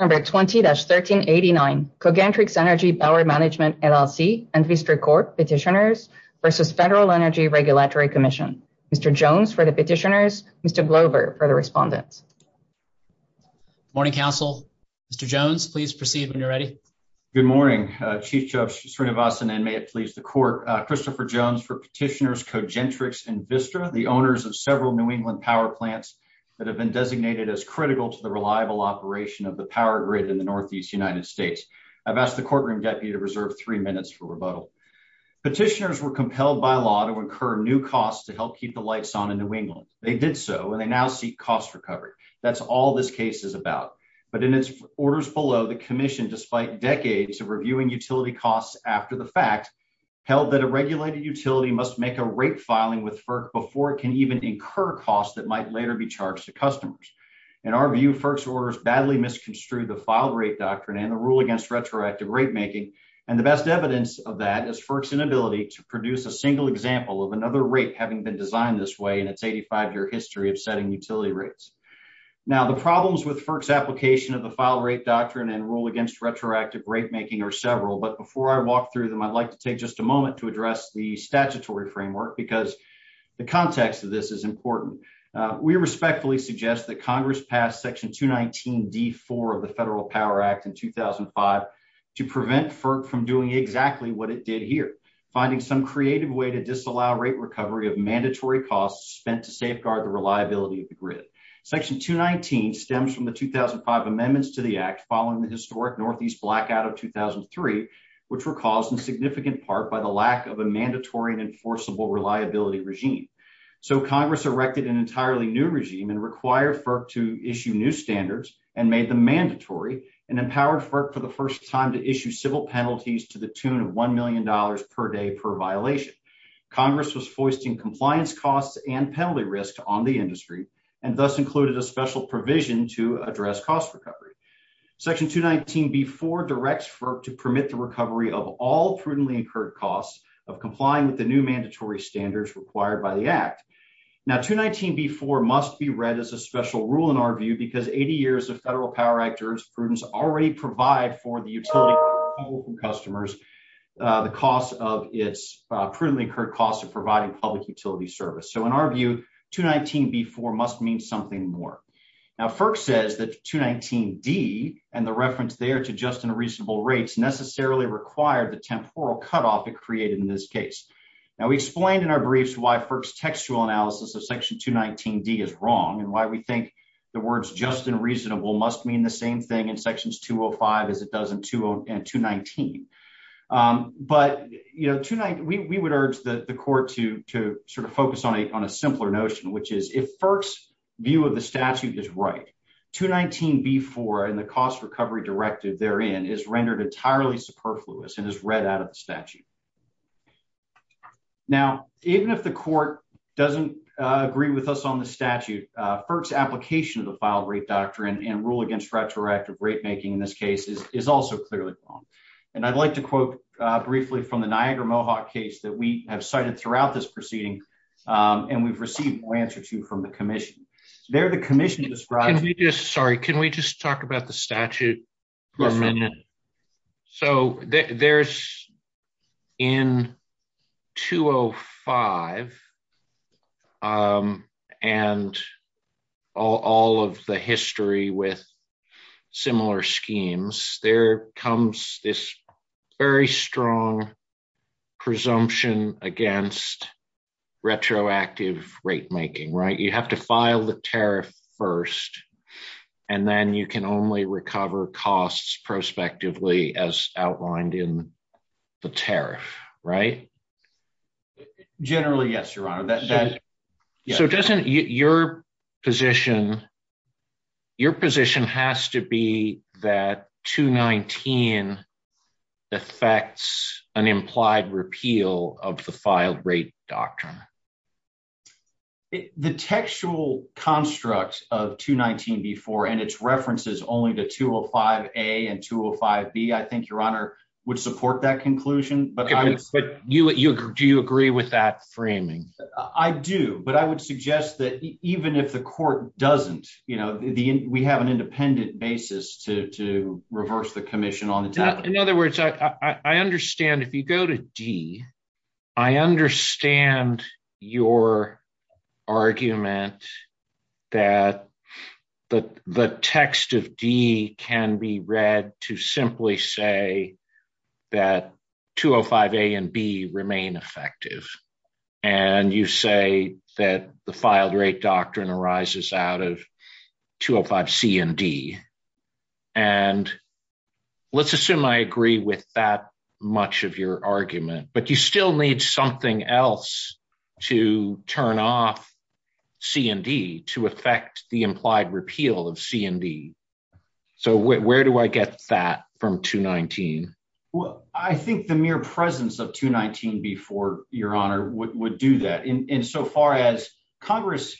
Number 20-1389 Cogentrix Energy Power Management LLC and Vistra Court Petitioners versus Federal Energy Regulatory Commission. Mr. Jones for the petitioners, Mr. Glover for the respondents. Good morning, Council. Mr. Jones, please proceed when you're ready. Good morning, Chief Judge Srinivasan, and may it please the Court. Christopher Jones for petitioners Cogentrix and Vistra, the owners of several New England power plants that have designated as critical to the reliable operation of the power grid in the Northeast United States. I've asked the courtroom deputy to reserve three minutes for rebuttal. Petitioners were compelled by law to incur new costs to help keep the lights on in New England. They did so, and they now seek cost recovery. That's all this case is about. But in its orders below, the commission, despite decades of reviewing utility costs after the fact, held that a regulated utility must make a rate customers. In our view, FERC's orders badly misconstrued the filed rate doctrine and the rule against retroactive rate making, and the best evidence of that is FERC's inability to produce a single example of another rate having been designed this way in its 85-year history of setting utility rates. Now, the problems with FERC's application of the filed rate doctrine and rule against retroactive rate making are several, but before I walk through them, I'd like to take just a moment to address the statutory framework because the context of this is important. We respectfully suggest that Congress pass section 219d4 of the Federal Power Act in 2005 to prevent FERC from doing exactly what it did here, finding some creative way to disallow rate recovery of mandatory costs spent to safeguard the reliability of the grid. Section 219 stems from the 2005 amendments to the act following the historic northeast blackout of 2003, which were caused in significant part by the lack of a mandatory and enforceable reliability regime. So Congress erected an entirely new regime and required FERC to issue new standards and made them mandatory and empowered FERC for the first time to issue civil penalties to the tune of $1 million per day per violation. Congress was foisting compliance costs and penalty risk on the industry and thus included a special provision to address cost recovery. Section 219b4 directs FERC to permit the recovery of all prudently incurred costs of complying with the new mandatory standards required by the act. Now 219b4 must be read as a special rule in our view because 80 years of Federal Power Act jurisprudence already provide for the utility customers the cost of its prudently incurred costs of providing public utility service. So in our view 219b4 must mean something more. Now FERC says that 219d and the reference there to just and reasonable rates necessarily required the temporal cutoff it created in this case. Now we explained in our briefs why FERC's textual analysis of section 219d is wrong and why we think the words just and reasonable must mean the same thing in sections 205 as it does in 219. But you know tonight we would urge the court to sort of focus on a simpler notion which is if FERC's view of the statute is right, 219b4 and the cost recovery directive therein is rendered entirely superfluous and is read out of the statute. Now even if the court doesn't agree with us on the statute, FERC's application of the filed rate doctrine and rule against retroactive rate making in this case is also clearly wrong. And I'd like to quote briefly from the Niagara Mohawk case that we have cited throughout this proceeding and we've received more answer to from the commission. There the commission described. Can we just, sorry, can we just talk about the statute for a minute? So there's in 205 and all of the history with similar schemes there comes this very strong presumption against retroactive rate making, right? You have to file the tariff first and then you can only recover costs prospectively as outlined in the tariff, right? Generally yes, your honor. So doesn't your position, your position has to be that 219 affects an implied repeal of the filed rate doctrine? The textual construct of 219b4 and its references only to 205a and 205b I think your honor would support that conclusion. But you, do you agree with that framing? I do, but I would suggest that even if the court doesn't, you know, we have an independent basis to reverse the commission on its own. In other words, I understand if you go to D, I understand your argument that the text of D can be read to simply say that 205a and b remain effective and you say that the filed rate doctrine arises out of 205c and d. And let's assume I agree with that much of your argument, but you still need something else to turn off c and d to affect the implied repeal of c and d. So where do I get that from 219? I think the mere presence of 219b4, your honor, would do that in so far as Congress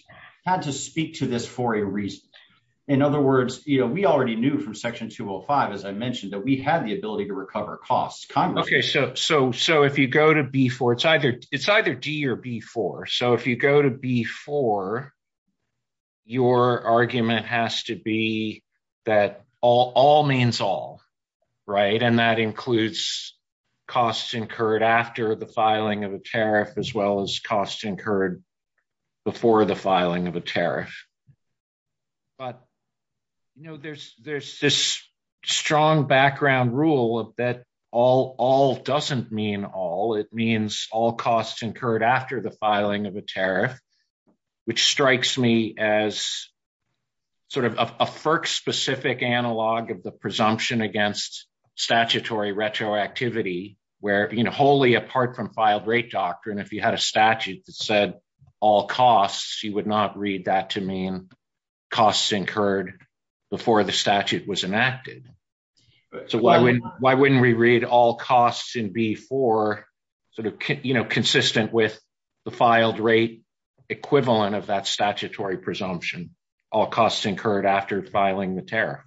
had to speak to this for a reason. In other words, you know, we already knew from section 205 as I mentioned that we had the ability to recover costs. Okay, so if you go to b4, it's either d or b4. So if you go to b4, your argument has to be that all means all, right? And that includes costs incurred after the filing of a tariff as well as costs incurred before the filing of a tariff. But, you know, there's this strong background rule that all doesn't mean all. It means all costs incurred after the filing of a tariff, which strikes me as sort of a FERC-specific analog of the presumption against statutory retroactivity where, you know, wholly apart from filed rate doctrine, if you had a statute that said all costs, you would not read that to mean costs incurred before the statute was enacted. So why wouldn't we read all costs in b4, sort of, you know, consistent with the filed rate equivalent of that statutory presumption, all costs incurred after filing the tariff?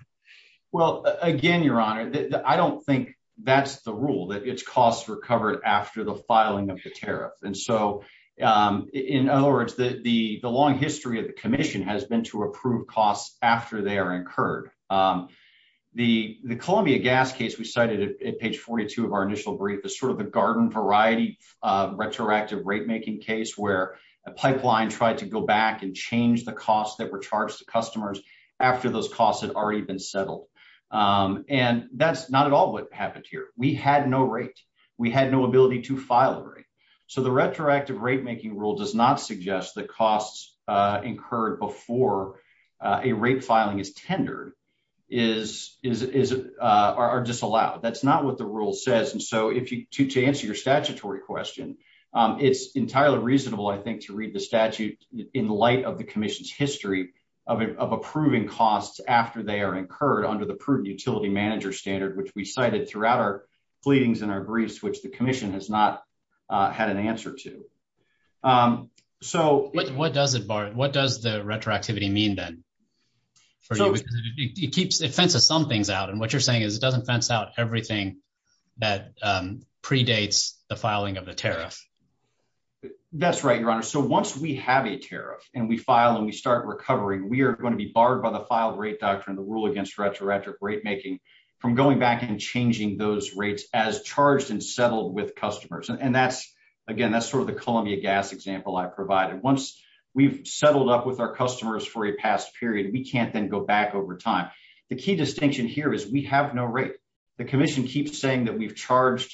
Well, again, your honor, I don't think that's the rule, that it's costs recovered after the filing of the tariff. And so, in other words, the long history of the commission has been to approve costs after they are incurred. The Columbia gas case we cited at page 42 of our initial brief is sort of the garden variety of retroactive rate making case where a pipeline tried to go back and change the costs that were charged to customers after those costs had already been settled. And that's not at all what happened here. We had no rate. We had no ability to file a rate. So the retroactive rate making rule does not suggest that costs incurred before a rate filing is tendered are disallowed. That's not what the rule says. And so, to answer your statutory question, it's entirely reasonable, I think, to read the statute in light of the commission's history of approving costs after they are incurred under the prudent utility manager standard, which we cited throughout our pleadings and our briefs, the commission has not had an answer to. So what does it bar? What does the retroactivity mean, then? So it keeps it fences some things out. And what you're saying is it doesn't fence out everything that predates the filing of a tariff. That's right, your honor. So once we have a tariff and we file and we start recovering, we are going to be barred by the filed rate doctrine, the rule against retroactive rate making from going back and changing those rates as charged and settled with customers. And again, that's sort of the Columbia gas example I provided. Once we've settled up with our customers for a past period, we can't then go back over time. The key distinction here is we have no rate. The commission keeps saying that we've charged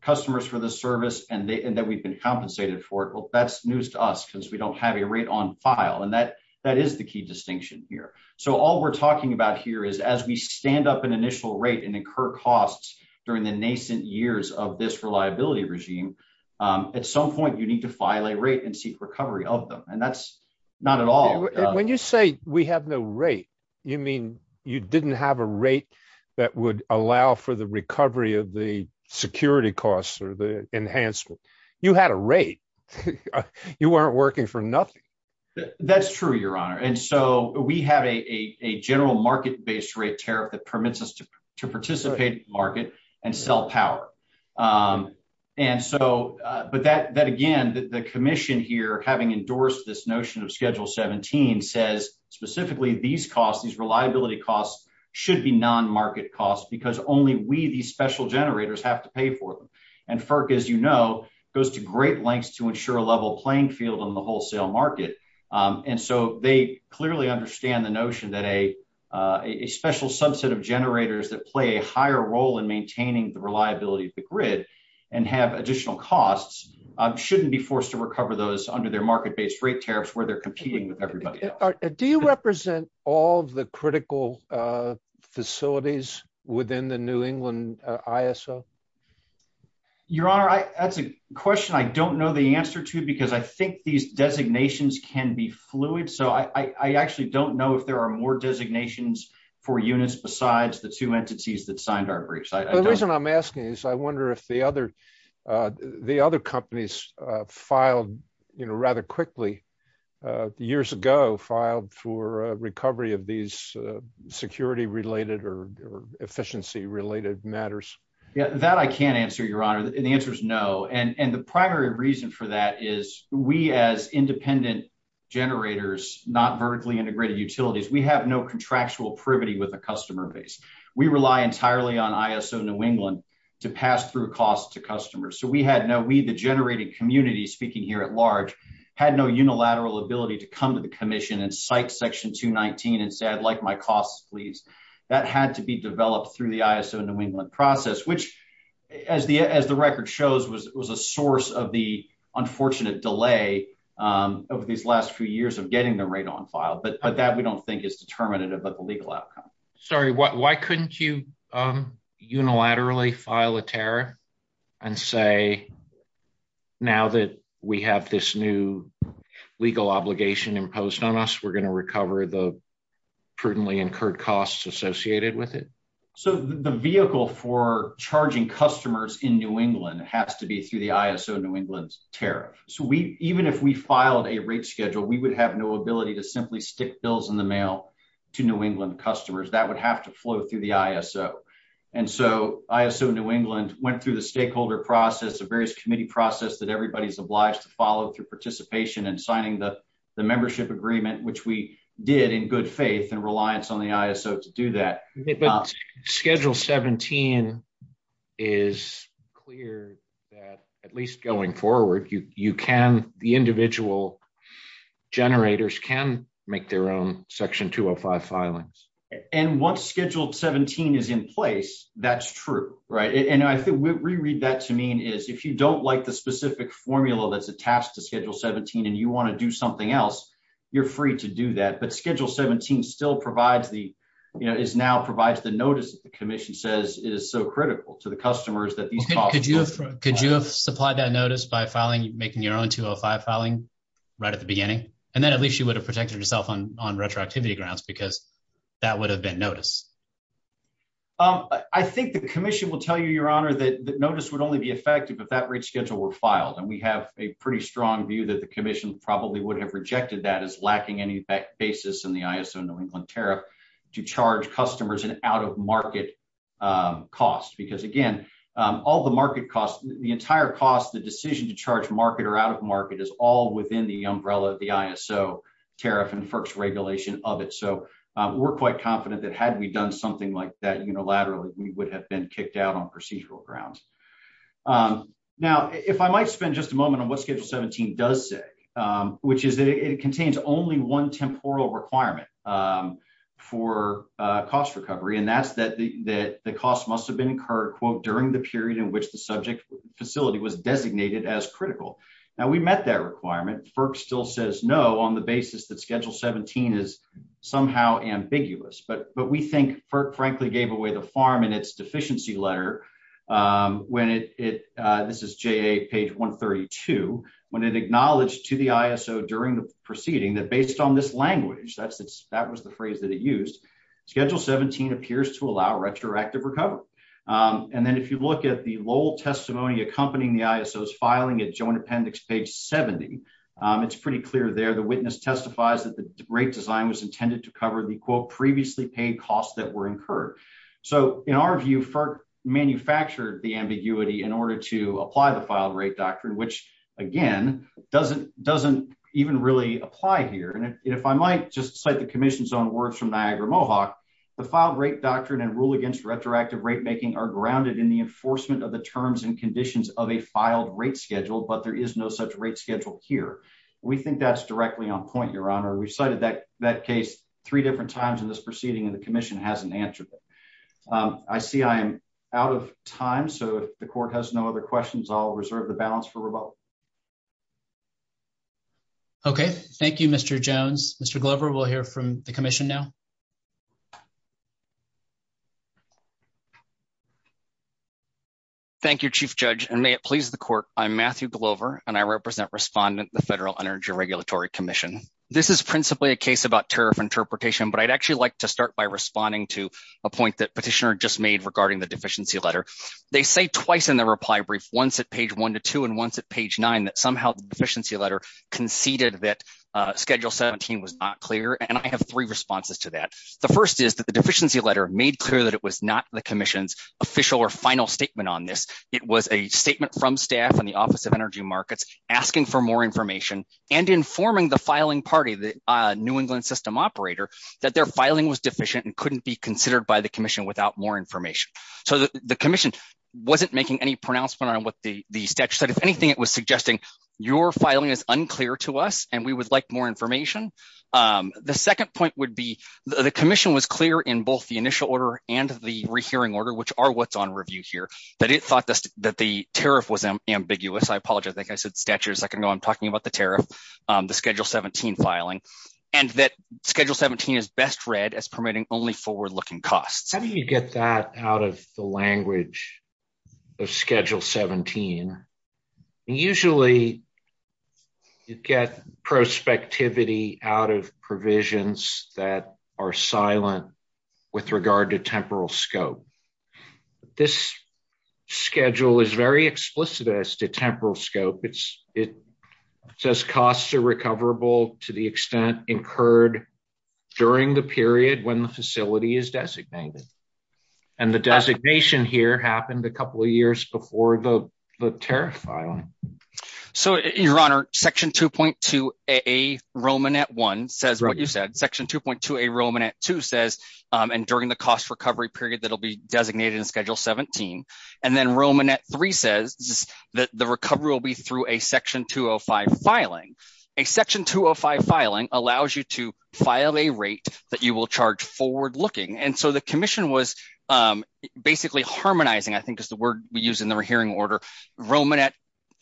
customers for the service and that we've been compensated for it. Well, that's news to us because we don't have a rate on file. And that is the key distinction here. So all we're incur costs during the nascent years of this reliability regime. At some point, you need to file a rate and seek recovery of them. And that's not at all. When you say we have no rate, you mean you didn't have a rate that would allow for the recovery of the security costs or the enhancement? You had a rate. You weren't working for nothing. That's true, your honor. And we have a general market based rate tariff that permits us to participate in the market and sell power. But again, the commission here, having endorsed this notion of Schedule 17, says specifically these costs, these reliability costs, should be non-market costs because only we, these special generators, have to pay for them. And FERC, as you know, goes to great lengths to they clearly understand the notion that a special subset of generators that play a higher role in maintaining the reliability of the grid and have additional costs shouldn't be forced to recover those under their market based rate tariffs where they're competing with everybody else. Do you represent all of the critical facilities within the New England ISO? Your honor, that's a question I don't know the answer to because I think these designations can be fluid. So I actually don't know if there are more designations for units besides the two entities that signed our briefs. The reason I'm asking is I wonder if the other companies filed rather quickly, years ago, filed for recovery of these security related or efficiency related matters. That I can't answer, your honor. The answer is no. And the primary reason for that is we as independent generators, not vertically integrated utilities, we have no contractual privity with a customer base. We rely entirely on ISO New England to pass through costs to customers. So we had no, we the generating community, speaking here at large, had no unilateral ability to come to the commission and cite section 219 and say I'd like my costs, please. That had to be developed through the ISO New England process, which as the record shows was a source of the unfortunate delay over these last few years of getting them right on file. But that we don't think is determinative of the legal outcome. Sorry, why couldn't you unilaterally file a tariff and say now that we have this new legal obligation imposed on us, we're going to recover the prudently incurred costs associated with it? So the vehicle for charging customers in New England has to be through the ISO New England tariff. So even if we filed a rate schedule, we would have no ability to simply stick bills in the mail to New England customers. That would have to flow through the ISO. And so ISO New England went through the stakeholder process, a various committee process that everybody's obliged to follow through participation and signing the membership agreement, which we did in good faith and reliance on the ISO to do that. Schedule 17 is clear that at least going forward, you can, the individual generators can make their own Section 205 filings. And once Schedule 17 is in place, that's true, right? And I think we read that to mean is if you don't like the specific formula that's attached to Schedule 17 and you want to do something else, you're free to do that. But Schedule 17 still provides the, you know, is now provides the notice that the commission says it is so critical to the customers that these costs. Could you have supplied that notice by filing, making your own 205 filing right at the beginning? And then at least you would have protected yourself on retroactivity grounds because that would have been notice. I think the commission will tell you, Your Honor, that notice would only be effective if that rate schedule were filed. And we have a pretty strong view that the commission probably would have rejected that as lacking any basis in the ISO New England tariff to charge customers an out-of-market cost. Because again, all the market costs, the entire cost, the decision to charge market or out-of-market is all within the umbrella of the ISO tariff and FERC's regulation of it. So we're quite confident that had we done something like that unilaterally, we would have been kicked out on procedural grounds. Now, if I might spend just a moment on what Schedule 17 does say, which is that it contains only one temporal requirement for cost recovery, and that's that the cost must have been incurred during the period in which the subject facility was designated as critical. Now we met that requirement. FERC still says no on the basis that Schedule 17 is somehow ambiguous. But we think FERC frankly gave away the farm in its deficiency letter when it, this is JA page 132, when it to the ISO during the proceeding that based on this language, that was the phrase that it used, Schedule 17 appears to allow retroactive recovery. And then if you look at the Lowell testimony accompanying the ISO's filing at Joint Appendix page 70, it's pretty clear there the witness testifies that the rate design was intended to cover the quote previously paid costs that were incurred. So in our view, FERC manufactured the ambiguity in order to apply the filed rate doctrine, which again, doesn't even really apply here. And if I might just cite the commission's own words from Niagara Mohawk, the filed rate doctrine and rule against retroactive rate making are grounded in the enforcement of the terms and conditions of a filed rate schedule, but there is no such rate schedule here. We think that's directly on point, Your Honor. We've cited that case three different times in this proceeding and the commission hasn't answered it. I see I am out of time. So if the court has no other questions, I'll reserve the balance for rebuttal. Okay, thank you, Mr. Jones. Mr. Glover, we'll hear from the commission now. Thank you, Chief Judge, and may it please the court. I'm Matthew Glover, and I represent respondent, the Federal Energy Regulatory Commission. This is principally a case about tariff interpretation, but I'd actually like to start by responding to a point that petitioner just made regarding the deficiency letter. They say twice in the reply brief, once at page one to two, and once at page nine, that somehow the deficiency letter conceded that schedule 17 was not clear. And I have three responses to that. The first is that the deficiency letter made clear that it was not the commission's official or final statement on this. It was a statement from staff in the Office of Energy Markets asking for more information and informing the filing party, the New England system operator, that their filing was deficient and couldn't be considered by the commission. So the commission wasn't making any pronouncement on what the statute said. If anything, it was suggesting your filing is unclear to us, and we would like more information. The second point would be, the commission was clear in both the initial order and the rehearing order, which are what's on review here, that it thought that the tariff was ambiguous. I apologize, I think I said statute a second ago. I'm talking about the tariff, the schedule 17 filing, and that schedule 17 is best read as permitting only forward-looking costs. How do you get that out of the language of schedule 17? Usually you get prospectivity out of provisions that are silent with regard to temporal scope. This schedule is very explicit as to temporal scope. It says costs are recoverable to the extent incurred during the period when the facility is designated, and the designation here happened a couple of years before the tariff filing. So your honor, section 2.2a Romanet 1 says what you said, section 2.2a Romanet 2 says, and during the cost recovery period that'll be designated in schedule 17, and then Romanet 3 says that the recovery will be through a section 205 filing. A section 205 filing allows you to file a rate that you will charge forward-looking, and so the commission was basically harmonizing, I think is the word we use in the rehearing order, Romanet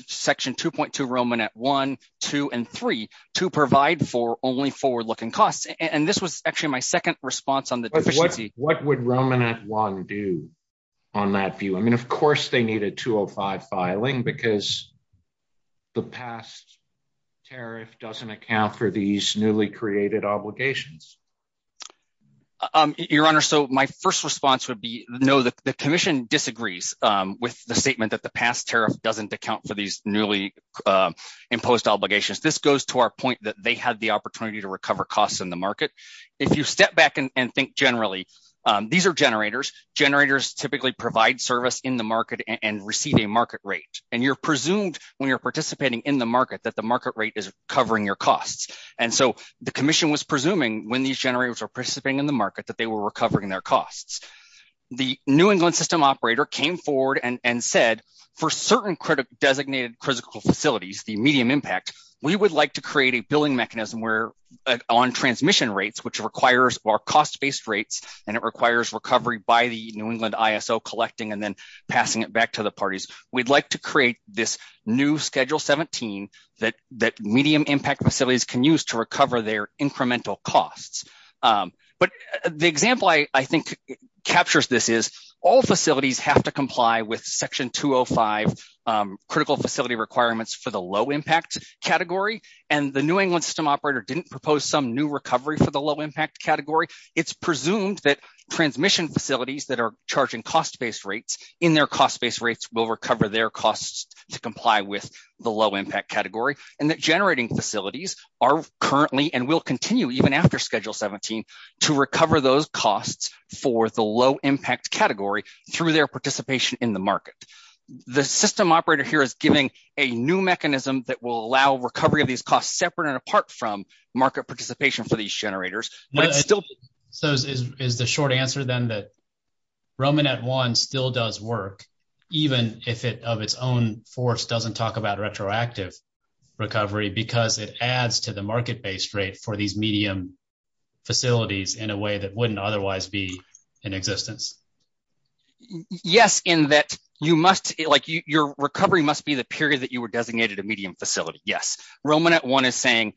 section 2.2 Romanet 1, 2, and 3 to provide for only forward-looking costs, and this was actually my second response on the deficiency. What would Romanet 1 do on that view? I mean of course they need a 205 filing because the past tariff doesn't account for these newly created obligations. Your honor, so my first response would be no, the commission disagrees with the statement that the past tariff doesn't account for these newly imposed obligations. This goes to our point that they had the opportunity to recover costs in the market. If you step back and think generally, these are generators. Generators typically provide service in the market and receive a market rate, and you're presumed when you're participating in the market that the market rate is covering your costs, and so the commission was presuming when these generators were participating in the market that they were recovering their costs. The New England system operator came forward and said, for certain designated critical facilities, the medium impact, we would like to create a billing mechanism where on transmission rates, which requires our cost-based rates, and it requires recovery by the New England ISO collecting and then passing it back to the parties. We'd like to create this new Schedule 17 that medium impact facilities can use to recover their incremental costs, but the example I think captures this is all facilities have to comply with Section 205 critical facility requirements for the low impact category, and the New England system operator didn't propose some new recovery for the low impact category. It's presumed that transmission facilities that are charging cost-based rates in their cost-based rates will recover their costs to comply with the low impact category, and that generating facilities are currently and will continue even after Schedule 17 to recover those costs for the low impact category through their participation in the market. The system operator here is giving a new mechanism that will allow recovery of these costs separate and apart from market participation for these generators, but it's still... So is the short answer then that Romanet One still does work even if it of its own force doesn't talk about retroactive recovery because it adds to the market-based rate for these medium facilities in a way that wouldn't otherwise be in existence? Yes, in that you must, like your recovery must be the period that you were designated a medium facility, yes. Romanet One is saying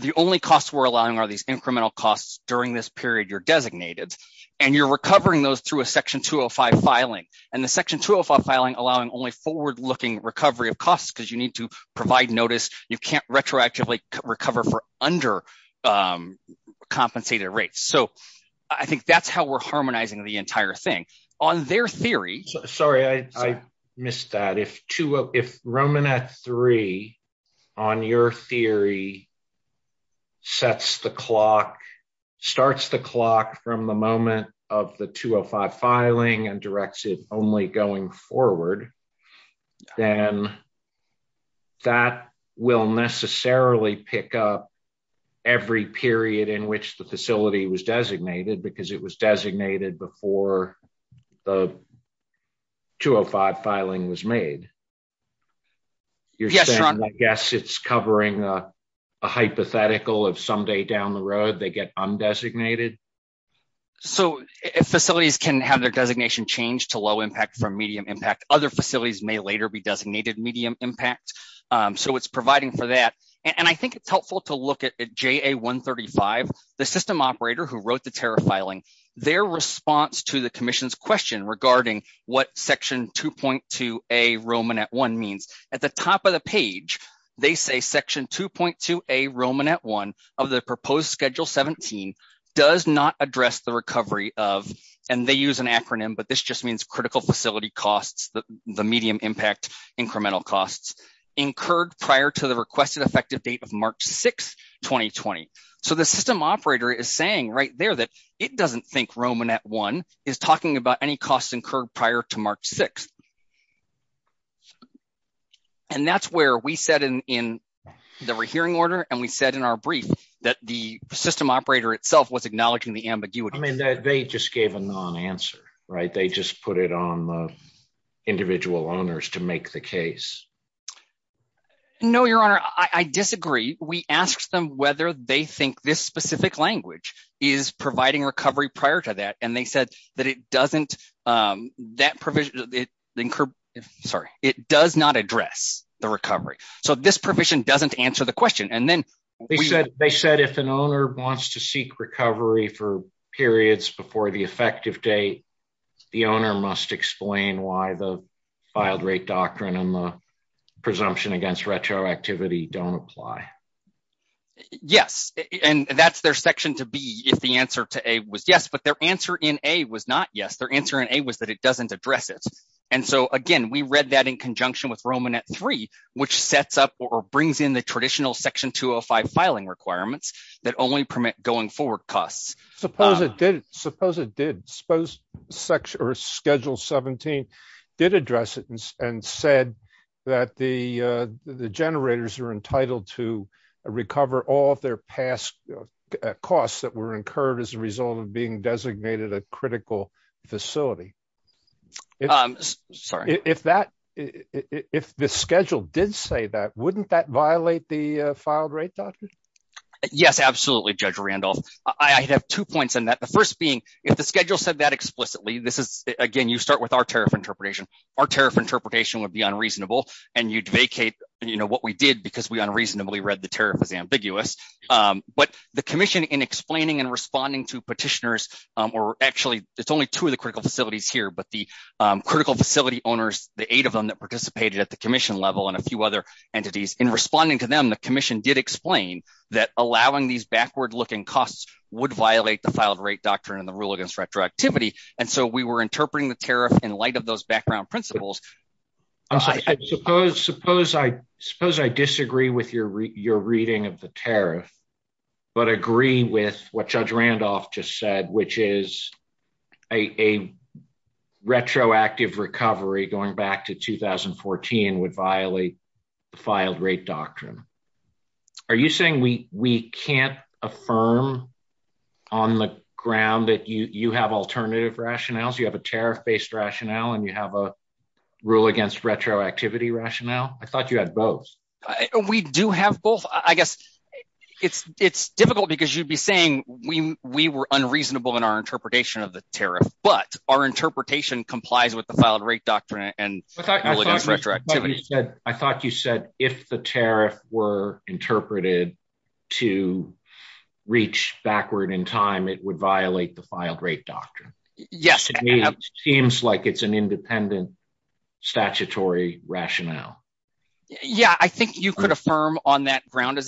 the only costs we're allowing are these incremental costs during this period you're designated, and you're recovering those through a Section 205 filing, and the Section 205 filing allowing only forward-looking recovery of costs because you need to provide notice, you can't retroactively recover for under-compensated rates. So I think that's how we're harmonizing the entire thing. On their theory... Sorry, I missed that. If Romanet Three on your theory sets the clock, starts the clock from the moment of the 205 filing and directs it only going forward, then that will necessarily pick up every period in which the facility was designated because it was designated before the 205 filing was made. You're saying, I guess, it's covering a hypothetical of someday down the road they get undesignated? So if facilities can have their designation changed to low impact from medium impact, other facilities may later be designated medium impact, so it's providing for that. And I think it's helpful to look at JA 135, the system operator who wrote the tariff filing, their response to the Commission's question regarding what Section 2.2a Romanet One means. At the top of the page, they say Section 2.2a Romanet One of the proposed Schedule 17 does not address the recovery of, and they use an acronym, but this just means critical facility costs, the medium impact incremental costs, incurred prior to the requested effective date of March 6, 2020. So the system operator is saying right there that it doesn't think Romanet One is talking about any costs incurred prior to March 6. And that's where we said in the rehearing order and we said in our brief that the system operator itself was acknowledging the ambiguity. I mean, they just gave a non-answer, right? They just put it on the individual owners to make the case. No, Your Honor, I disagree. We asked them whether they think this specific language is providing recovery prior to that, and they said that it doesn't, that provision, sorry, it does not address the recovery. So this provision doesn't answer the question. They said if an owner wants to seek recovery for periods before the effective date, the owner must explain why the filed rate doctrine and the presumption against retroactivity don't apply. Yes, and that's their section to be if the answer to A was yes, but their answer in A was not yes. Their answer in A was that it doesn't address it. And so again, we read that in conjunction with Romanet Three, which sets up or brings in the traditional section 205 filing requirements that only permit going forward costs. Suppose it did, suppose it did, suppose Schedule 17 did address it and said that the generators are entitled to recover all of their past costs that were incurred as a result of being designated a critical facility. If the schedule did say that, wouldn't that violate the filed rate doctrine? Yes, absolutely, Judge Randolph. I have two points on that. The first being, if the schedule said that explicitly, this is, again, you start with our tariff interpretation, our tariff interpretation would be unreasonable, and you'd vacate, you know, what we did because we unreasonably read the tariff as ambiguous. But the commission in explaining and responding to petitioners, or actually, it's only two of the critical facilities here, but the critical facility owners, the eight of them that participated at the commission level and a few other entities in responding to them, the commission did explain that allowing these retroactivity, and so we were interpreting the tariff in light of those background principles. Suppose I disagree with your reading of the tariff, but agree with what Judge Randolph just said, which is a retroactive recovery going back to 2014 would violate the filed rate doctrine. Are you saying we can't affirm on the ground that you have alternative rationales, you have a tariff-based rationale, and you have a rule against retroactivity rationale? I thought you had both. We do have both. I guess it's difficult because you'd be saying we were unreasonable in our interpretation of the tariff, but our interpretation complies with the filed rate doctrine. It seems like it's an independent statutory rationale. Yeah, I think you could affirm on that ground. I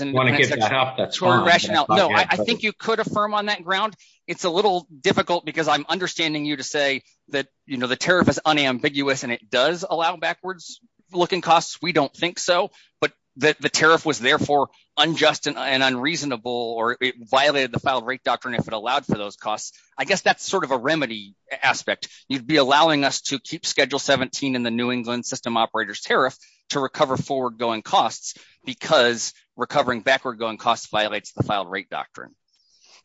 think you could affirm on that ground. It's a little difficult because I'm understanding you to say that the tariff is unambiguous and it does allow backwards looking costs. We don't think so, but the tariff was therefore unjust and unreasonable, or it violated the filed rate doctrine if it allowed for those costs. I guess that's sort of a remedy aspect. You'd be allowing us to keep Schedule 17 in the New England System Operators Tariff to recover forward-going costs because recovering backward-going costs violates the filed rate doctrine.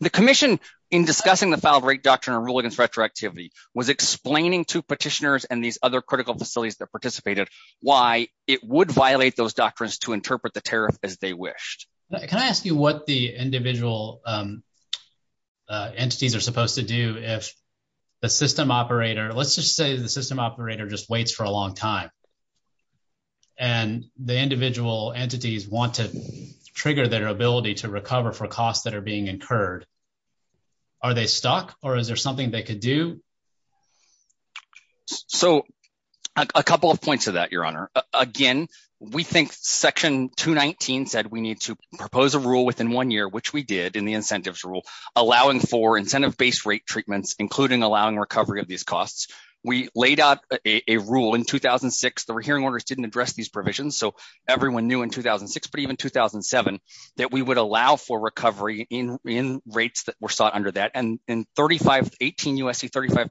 The commission, in discussing the filed rate doctrine and rule against retroactivity, was explaining to petitioners and these other critical facilities that participated why it would violate those doctrines to interpret the tariff as they wished. Can I ask you what the individual entities are supposed to do if the system operator – let's just say the system operator just waits for a long time and the individual entities want to trigger their ability to recover for costs that are being incurred. Are they stuck or is there something they could do? So, a couple of points to that, Your Honor. Again, we think Section 219 said we need to propose a rule within one year, which we did in the incentives rule, allowing for incentive-based rate treatments, including allowing recovery of these costs. We laid out a rule in 2006. The hearing orders didn't address these provisions, so everyone knew in 2006, but even in 2007 that we would allow for recovery in rates that were sought under that. And in 18 U.S.C. 35,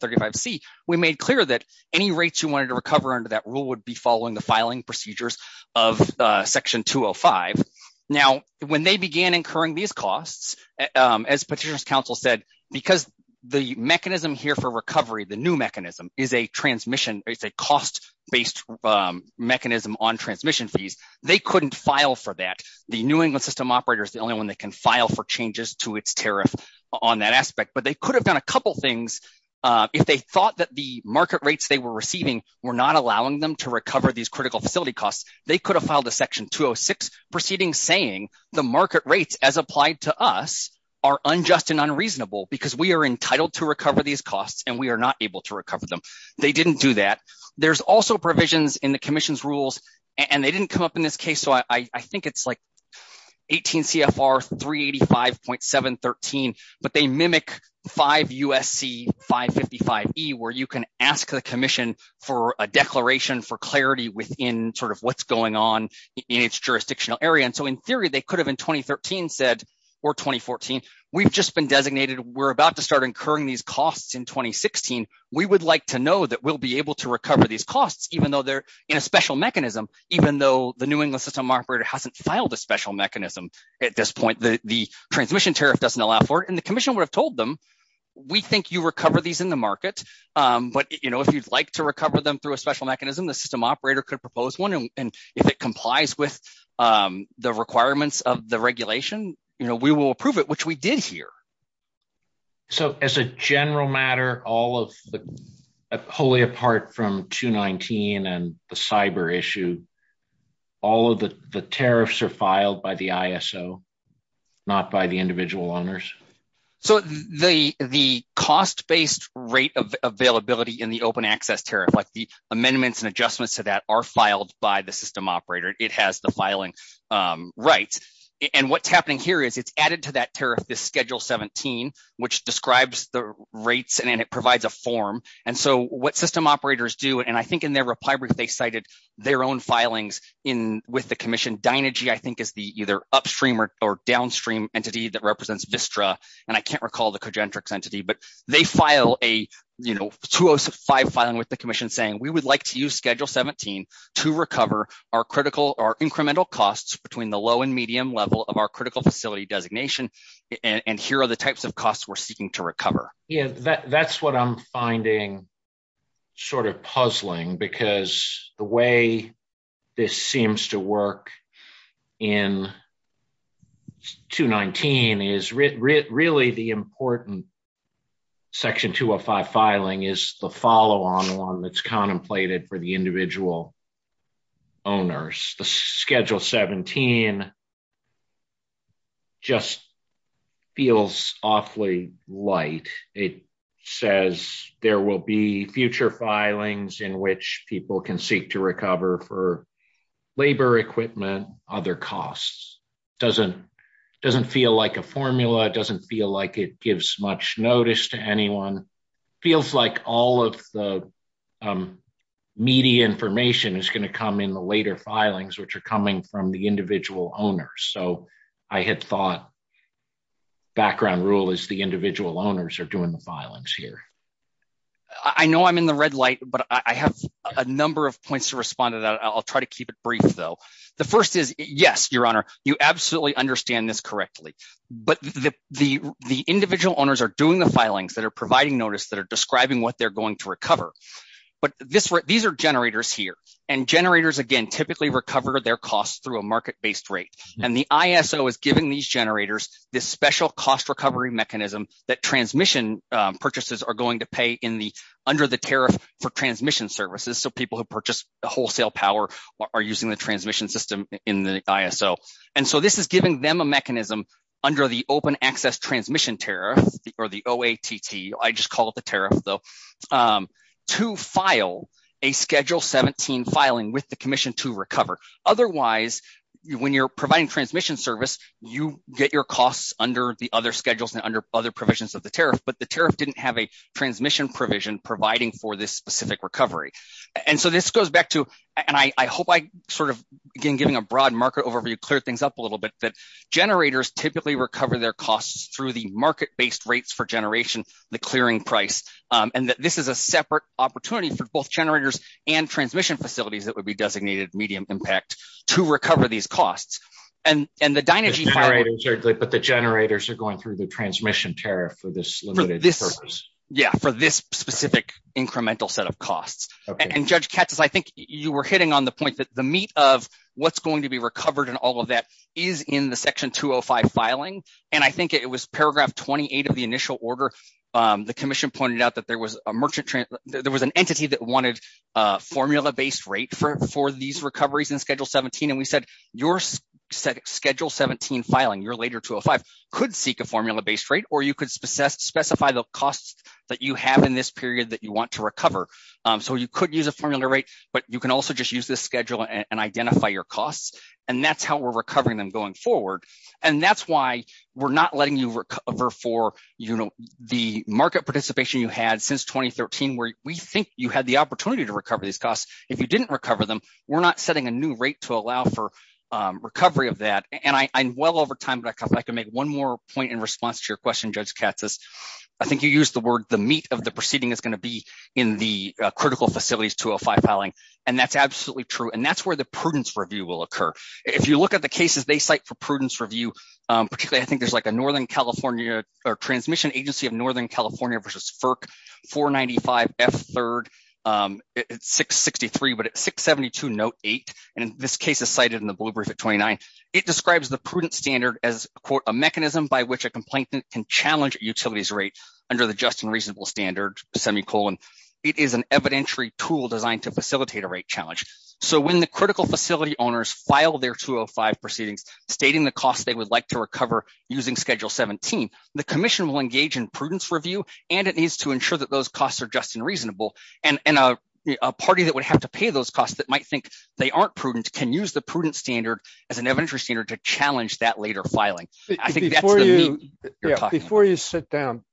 we made clear that any rates you wanted to recover under that rule would be following the filing procedures of Section 205. Now, when they began incurring these costs, as petitioners' counsel said, because the mechanism here for recovery, the new mechanism, is a transmission – it's a cost-based mechanism on transmission fees. They couldn't file for that. The New England system operator is the only one that can file for changes to its tariff on that aspect. But they could have done a couple things if they thought that the market rates they were receiving were not allowing them to recover these critical facility costs. They could have filed a Section 206 proceeding saying the market rates as applied to us are unjust and unreasonable because we are entitled to recover these costs and we are not able to recover them. They didn't do that. There's also provisions in the Commission's rules, and they didn't come up in this case, I think it's like 18 CFR 385.713, but they mimic 5 U.S.C. 555E, where you can ask the Commission for a declaration for clarity within sort of what's going on in its jurisdictional area. And so in theory, they could have in 2013 said, or 2014, we've just been designated, we're about to start incurring these costs in 2016. We would like to know that we'll be able to recover these costs, even though they're in a special mechanism, even though the New England system operator hasn't filed a special mechanism at this point, the transmission tariff doesn't allow for it. And the Commission would have told them, we think you recover these in the market, but if you'd like to recover them through a special mechanism, the system operator could propose one. And if it complies with the requirements of the regulation, we will approve it, which we did here. So as a general matter, wholly apart from 219 and the cyber issue, all of the tariffs are filed by the ISO, not by the individual owners. So the cost-based rate of availability in the open access tariff, like the amendments and adjustments to that are filed by the system operator, it has the filing rights. And what's happening here is it's added to that tariff, this Schedule 17, which describes the rates and it provides a form. And so what system operators do, and I think in their reply brief, they cited their own filings with the Commission. Dynegy, I think, is the either upstream or downstream entity that represents Vistra. And I can't recall the Cogentrix entity, but they file a, you know, 205 filing with the Commission saying, we would like to use Schedule 17 to recover our critical or incremental costs between the low and medium level of our critical facility designation. And here are the types of costs we're seeking to recover. Yeah, that's what I'm finding sort of puzzling because the way this seems to work in 219 is really the important Section 205 filing is the follow-on one that's contemplated for the says there will be future filings in which people can seek to recover for labor equipment, other costs. Doesn't feel like a formula. It doesn't feel like it gives much notice to anyone. Feels like all of the media information is going to come in the later filings, which are coming from the individual owners. So I had thought background rule is the individual owners are doing the filings here. I know I'm in the red light, but I have a number of points to respond to that. I'll try to keep it brief though. The first is, yes, Your Honor, you absolutely understand this correctly, but the individual owners are doing the filings that are providing notice that are describing what they're going to recover. But these are generators here and generators, again, typically recover their costs through a market-based rate. And the ISO is giving these generators this special cost recovery mechanism that transmission purchases are going to pay in the under the tariff for transmission services. So people who purchase wholesale power are using the transmission system in the ISO. And so this is giving them a mechanism under the Open Access Transmission Tariff or the OATT, I just call it the tariff though, to file a Schedule 17 filing with the Commission to recover. Otherwise, when you're providing transmission service, you get your costs under the other schedules and under other provisions of the tariff, but the tariff didn't have a transmission provision providing for this specific recovery. And so this goes back to, and I hope I sort of, again, giving a broad market overview, clear things up a little bit, that generators typically recover their costs through the market-based rates for generation, the clearing price, and that this is a separate opportunity for both generators and transmission facilities that would be designated medium impact to recover these costs. But the generators are going through the transmission tariff for this limited purpose. Yeah, for this specific incremental set of costs. And Judge Katsas, I think you were hitting on the point that the meat of what's going to be recovered and all of that is in the Section 205 filing. And I think it was Paragraph 28 of the initial order, the Commission pointed out that there was an entity that wanted a formula-based rate for these recoveries in Schedule 17. And we said, your Schedule 17 filing, your later 205, could seek a formula-based rate, or you could specify the costs that you have in this period that you want to recover. So you could use a formula rate, but you can also just use this schedule and identify your costs. And that's how we're recovering them going forward. And that's why we're not letting you recover for, you know, the market participation you had since 2013, where we think you had the opportunity to recover these recovery of that. And I'm well over time, but I can make one more point in response to your question, Judge Katsas. I think you used the word, the meat of the proceeding is going to be in the Critical Facilities 205 filing. And that's absolutely true. And that's where the prudence review will occur. If you look at the cases they cite for prudence review, particularly, I think there's like a Northern California or Transmission Agency of Northern California versus 495F3, it's 663, but it's 672 note eight. And this case is cited in the blue brief at 29. It describes the prudent standard as a mechanism by which a complainant can challenge utilities rate under the just and reasonable standard, semi-colon. It is an evidentiary tool designed to facilitate a rate challenge. So when the critical facility owners file their 205 proceedings, stating the costs they would like to recover using Schedule 17, the commission will engage in prudence review, and it needs to ensure that those costs are just and reasonable. And a party that would have to pay those costs that might think they aren't prudent, can use the prudent standard as an evidentiary standard to challenge that later filing. Before you sit down,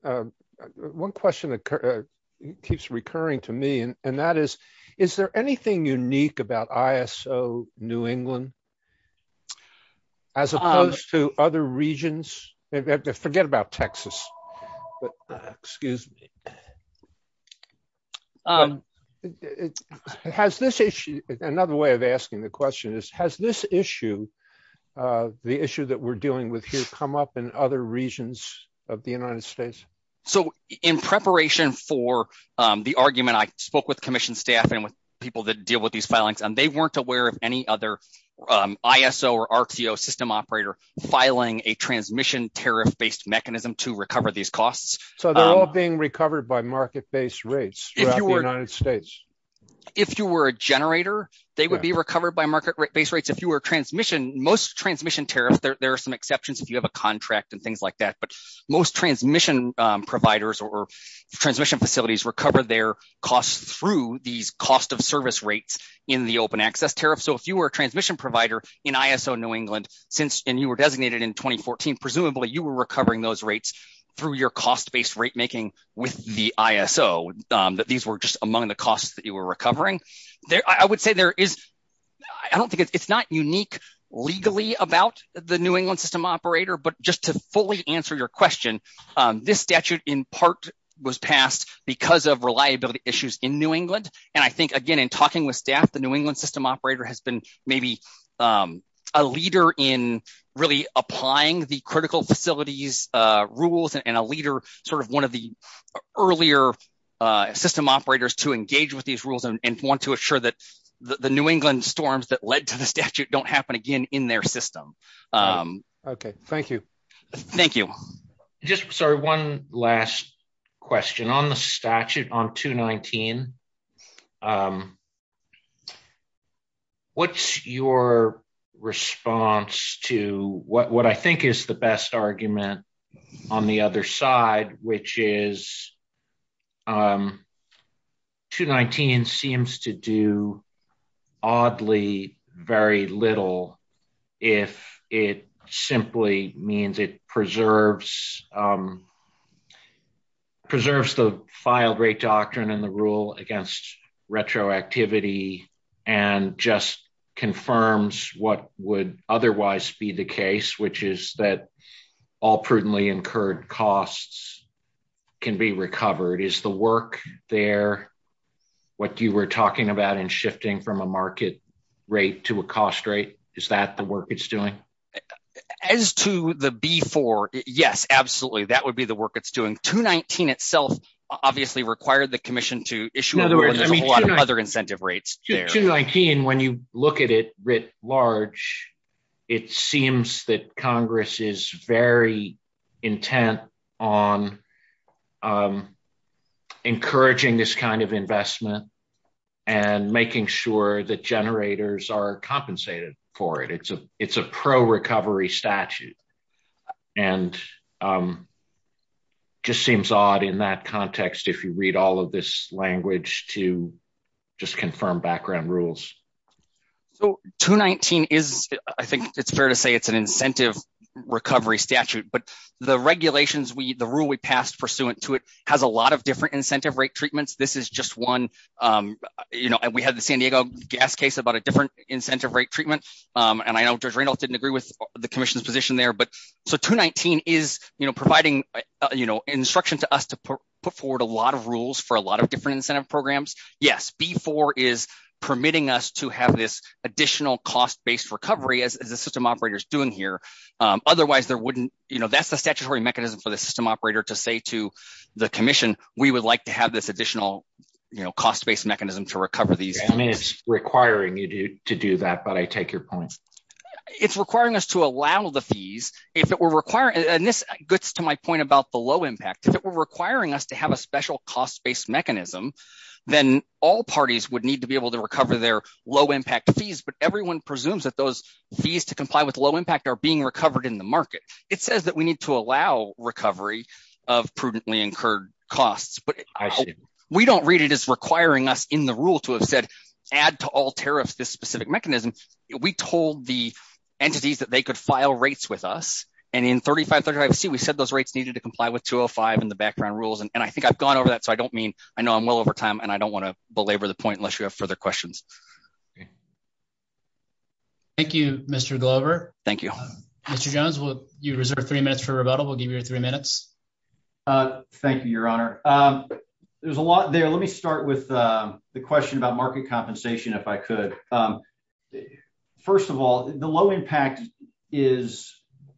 one question that keeps recurring to me, and that is, is there anything unique about ISO New England, as opposed to other regions? Forget about Texas. Excuse me. Has this issue, another way of asking the question is, has this issue, the issue that we're dealing with here, come up in other regions of the United States? So in preparation for the argument, I spoke with commission staff and with people that deal with these filings, and they weren't aware of any other ISO or RTO system operator filing a transmission tariff-based mechanism to recover these costs. So they're all being recovered by market-based rates throughout the United States? If you were a generator, they would be recovered by market-based rates. If you were a transmission, most transmission tariffs, there are some exceptions if you have a contract and things like that, but most transmission providers or transmission facilities recover their costs through these cost of service rates in the open access tariff. So if you were a transmission provider in ISO New England, and you were recovering those rates through your cost-based rate making with the ISO, that these were just among the costs that you were recovering. I would say there is, I don't think it's not unique legally about the New England system operator, but just to fully answer your question, this statute in part was passed because of reliability issues in New England. And I think, again, in talking with staff, the New England system operator has been maybe a leader in really applying the critical facilities rules and a leader, sort of one of the earlier system operators to engage with these rules and want to assure that the New England storms that led to the statute don't happen again in their system. Okay, thank you. Thank you. Just, sorry, one last question. On the statute, on 219, what's your response to what I think is the best argument on the other side, which is 219 seems to do oddly very little if it simply means it preserves the filed rate doctrine and the rule against retroactivity and just confirms what would can be recovered. Is the work there, what you were talking about in shifting from a market rate to a cost rate, is that the work it's doing? As to the B4, yes, absolutely, that would be the work it's doing. 219 itself obviously required the commission to issue a lot of other incentive rates. 219, when you look at it writ large, it seems that Congress is very intent on encouraging this kind of investment and making sure that generators are compensated for it. It's a pro-recovery statute and just seems odd in that context if you read all of this background rules. So 219 is, I think it's fair to say it's an incentive recovery statute, but the regulations, the rule we passed pursuant to it has a lot of different incentive rate treatments. This is just one, you know, we had the San Diego gas case about a different incentive rate treatment and I know Judge Randolph didn't agree with the commission's position there, but so 219 is, you know, providing, you know, instruction to us to put forward a lot of rules for a lot of permitting us to have this additional cost-based recovery as the system operator's doing here. Otherwise, there wouldn't, you know, that's the statutory mechanism for the system operator to say to the commission, we would like to have this additional, you know, cost-based mechanism to recover these. I mean, it's requiring you to do that, but I take your point. It's requiring us to allow the fees. If it were requiring, and this gets to my point about the low impact, if it were requiring us to have a special cost-based mechanism, then all parties would need to be able to recover their low impact fees, but everyone presumes that those fees to comply with low impact are being recovered in the market. It says that we need to allow recovery of prudently incurred costs, but we don't read it as requiring us in the rule to have said add to all tariffs this specific mechanism. We told the entities that they could file rates with us, and in 3535C, we said those rates needed to comply with 205 and the background rules, and I think I've gone over that, so I don't mean, I know I'm well over time, and I don't want to belabor the point unless you have further questions. Thank you, Mr. Glover. Thank you. Mr. Jones, you reserve three minutes for rebuttal. We'll give you three minutes. Thank you, Your Honor. There's a lot there. Let me start with the question about market compensation, if I could. First of all, the low impact is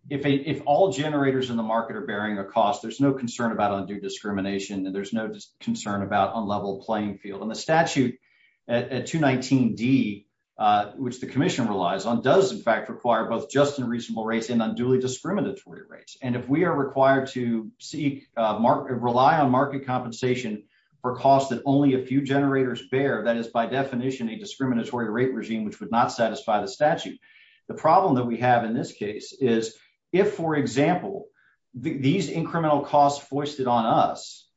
if all generators in the market are bearing a cost, there's no concern about undue at 219D, which the commission relies on, does in fact require both just and reasonable rates and unduly discriminatory rates, and if we are required to rely on market compensation for costs that only a few generators bear, that is by definition a discriminatory rate regime which would not satisfy the statute. The problem that we have in this case is if, for example, these incremental costs foisted on us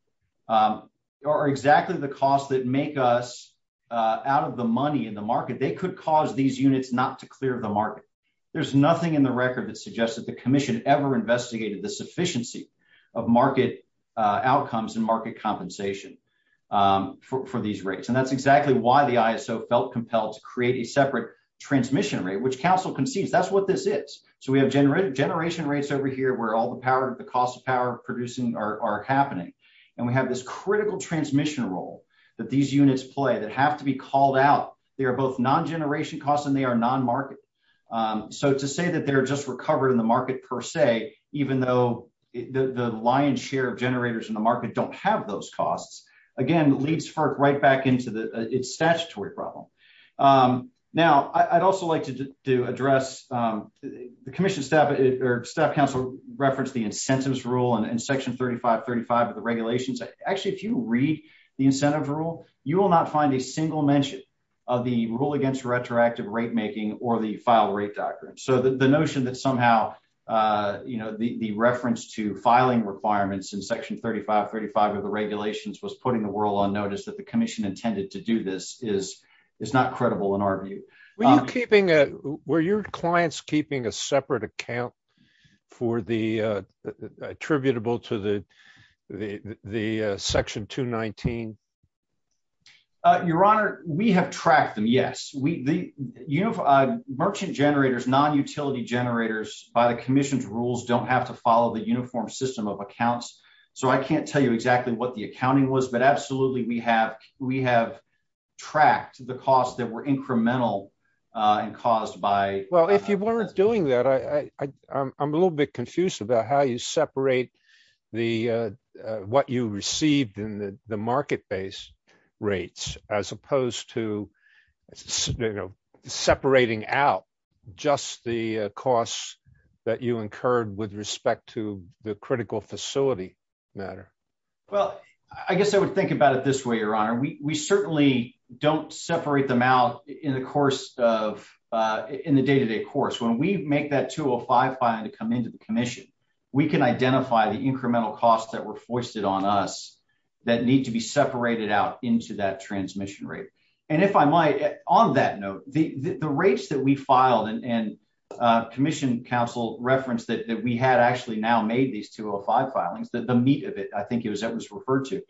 are exactly the costs that make us out of the money in the market, they could cause these units not to clear the market. There's nothing in the record that suggests that the commission ever investigated the sufficiency of market outcomes and market compensation for these rates, and that's exactly why the ISO felt compelled to create a separate transmission rate, which counsel concedes that's what this is. So we have generation rates over here where all the power, the cost of power producing are happening, and we have this critical transmission role that these units play that have to be called out. They are both non-generation costs and they are non-market. So to say that they're just recovered in the market per se, even though the lion's share of generators in the market don't have those costs, again, leads FERC right back into the statutory problem. Now, I'd also like to do address the commission staff, or staff counsel referenced the incentives rule and section 3535 of the regulations. Actually, if you read the incentive rule, you will not find a single mention of the rule against retroactive rate making or the file rate doctrine. So the notion that somehow, you know, the reference to filing requirements in section 3535 of the regulations was putting the world on notice that the commission intended to do this is not credible in our view. Were you keeping, were your clients keeping a separate account for the attributable to the section 219? Your Honor, we have tracked them, yes. Merchant generators, non-utility generators by the commission's rules don't have to follow the uniform system of accounts. So I can't tell you exactly what the accounting was, but absolutely we have tracked the costs that were incremental and caused by... Well, if you weren't doing that, I'm a little bit confused about how you separate what you received in the market base rates as opposed to, you know, separating out just the costs that you incurred with respect to the critical facility matter. Well, I guess I would think about it this way, Your Honor. We certainly don't separate them in the day-to-day course. When we make that 205 filing to come into the commission, we can identify the incremental costs that were foisted on us that need to be separated out into that transmission rate. And if I might, on that note, the rates that we filed and commission counsel referenced that we had actually now made these 205 filings, the meat of it, I think it was that was referred to,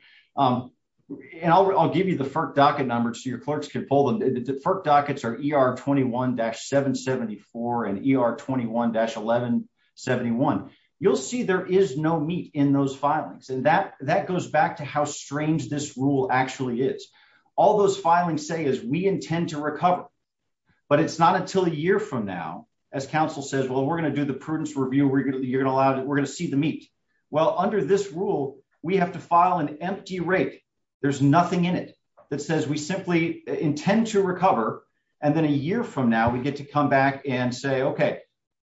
and I'll give you the FERC docket numbers so your clerks could pull them. The FERC dockets are ER21-774 and ER21-1171. You'll see there is no meat in those filings. And that goes back to how strange this rule actually is. All those filings say is we intend to recover, but it's not until a year from now, as counsel says, well, we're going to do the prudence review. We're going to see the meat. Well, under this rule, we have to file an intent to recover. And then a year from now, we get to come back and say, okay,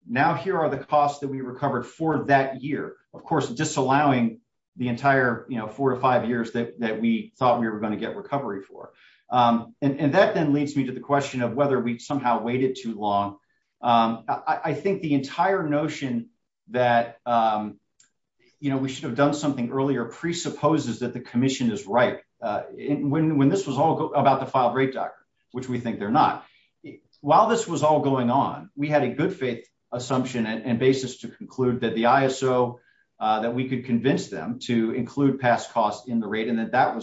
now here are the costs that we recovered for that year. Of course, disallowing the entire four to five years that we thought we were going to get recovery for. And that then leads me to the question of whether we somehow waited too long. I think the entire notion that we should have done something earlier presupposes that the commission is right. When this was all about the filed rate docker, which we think they're not, while this was all going on, we had a good faith assumption and basis to conclude that the ISO, that we could convince them to include past costs in the rate and that that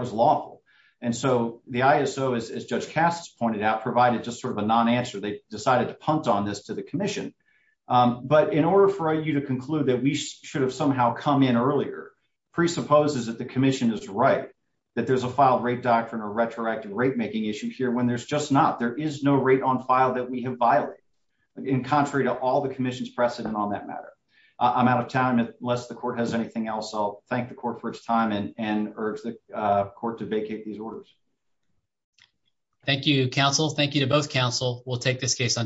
was lawful. And so the ISO, as Judge Kass pointed out, provided just sort of a non-answer. They decided to punt on this to the commission. But in order for you to conclude that we should have somehow come in earlier presupposes that the commission is right, that there's a file rate doctrine or retroactive rate making issue here when there's just not, there is no rate on file that we have violated in contrary to all the commission's precedent on that matter. I'm out of time unless the court has anything else. I'll thank the court for its time and urge the court to vacate these orders. Thank you, counsel. Thank you to both counsel. We'll take this case under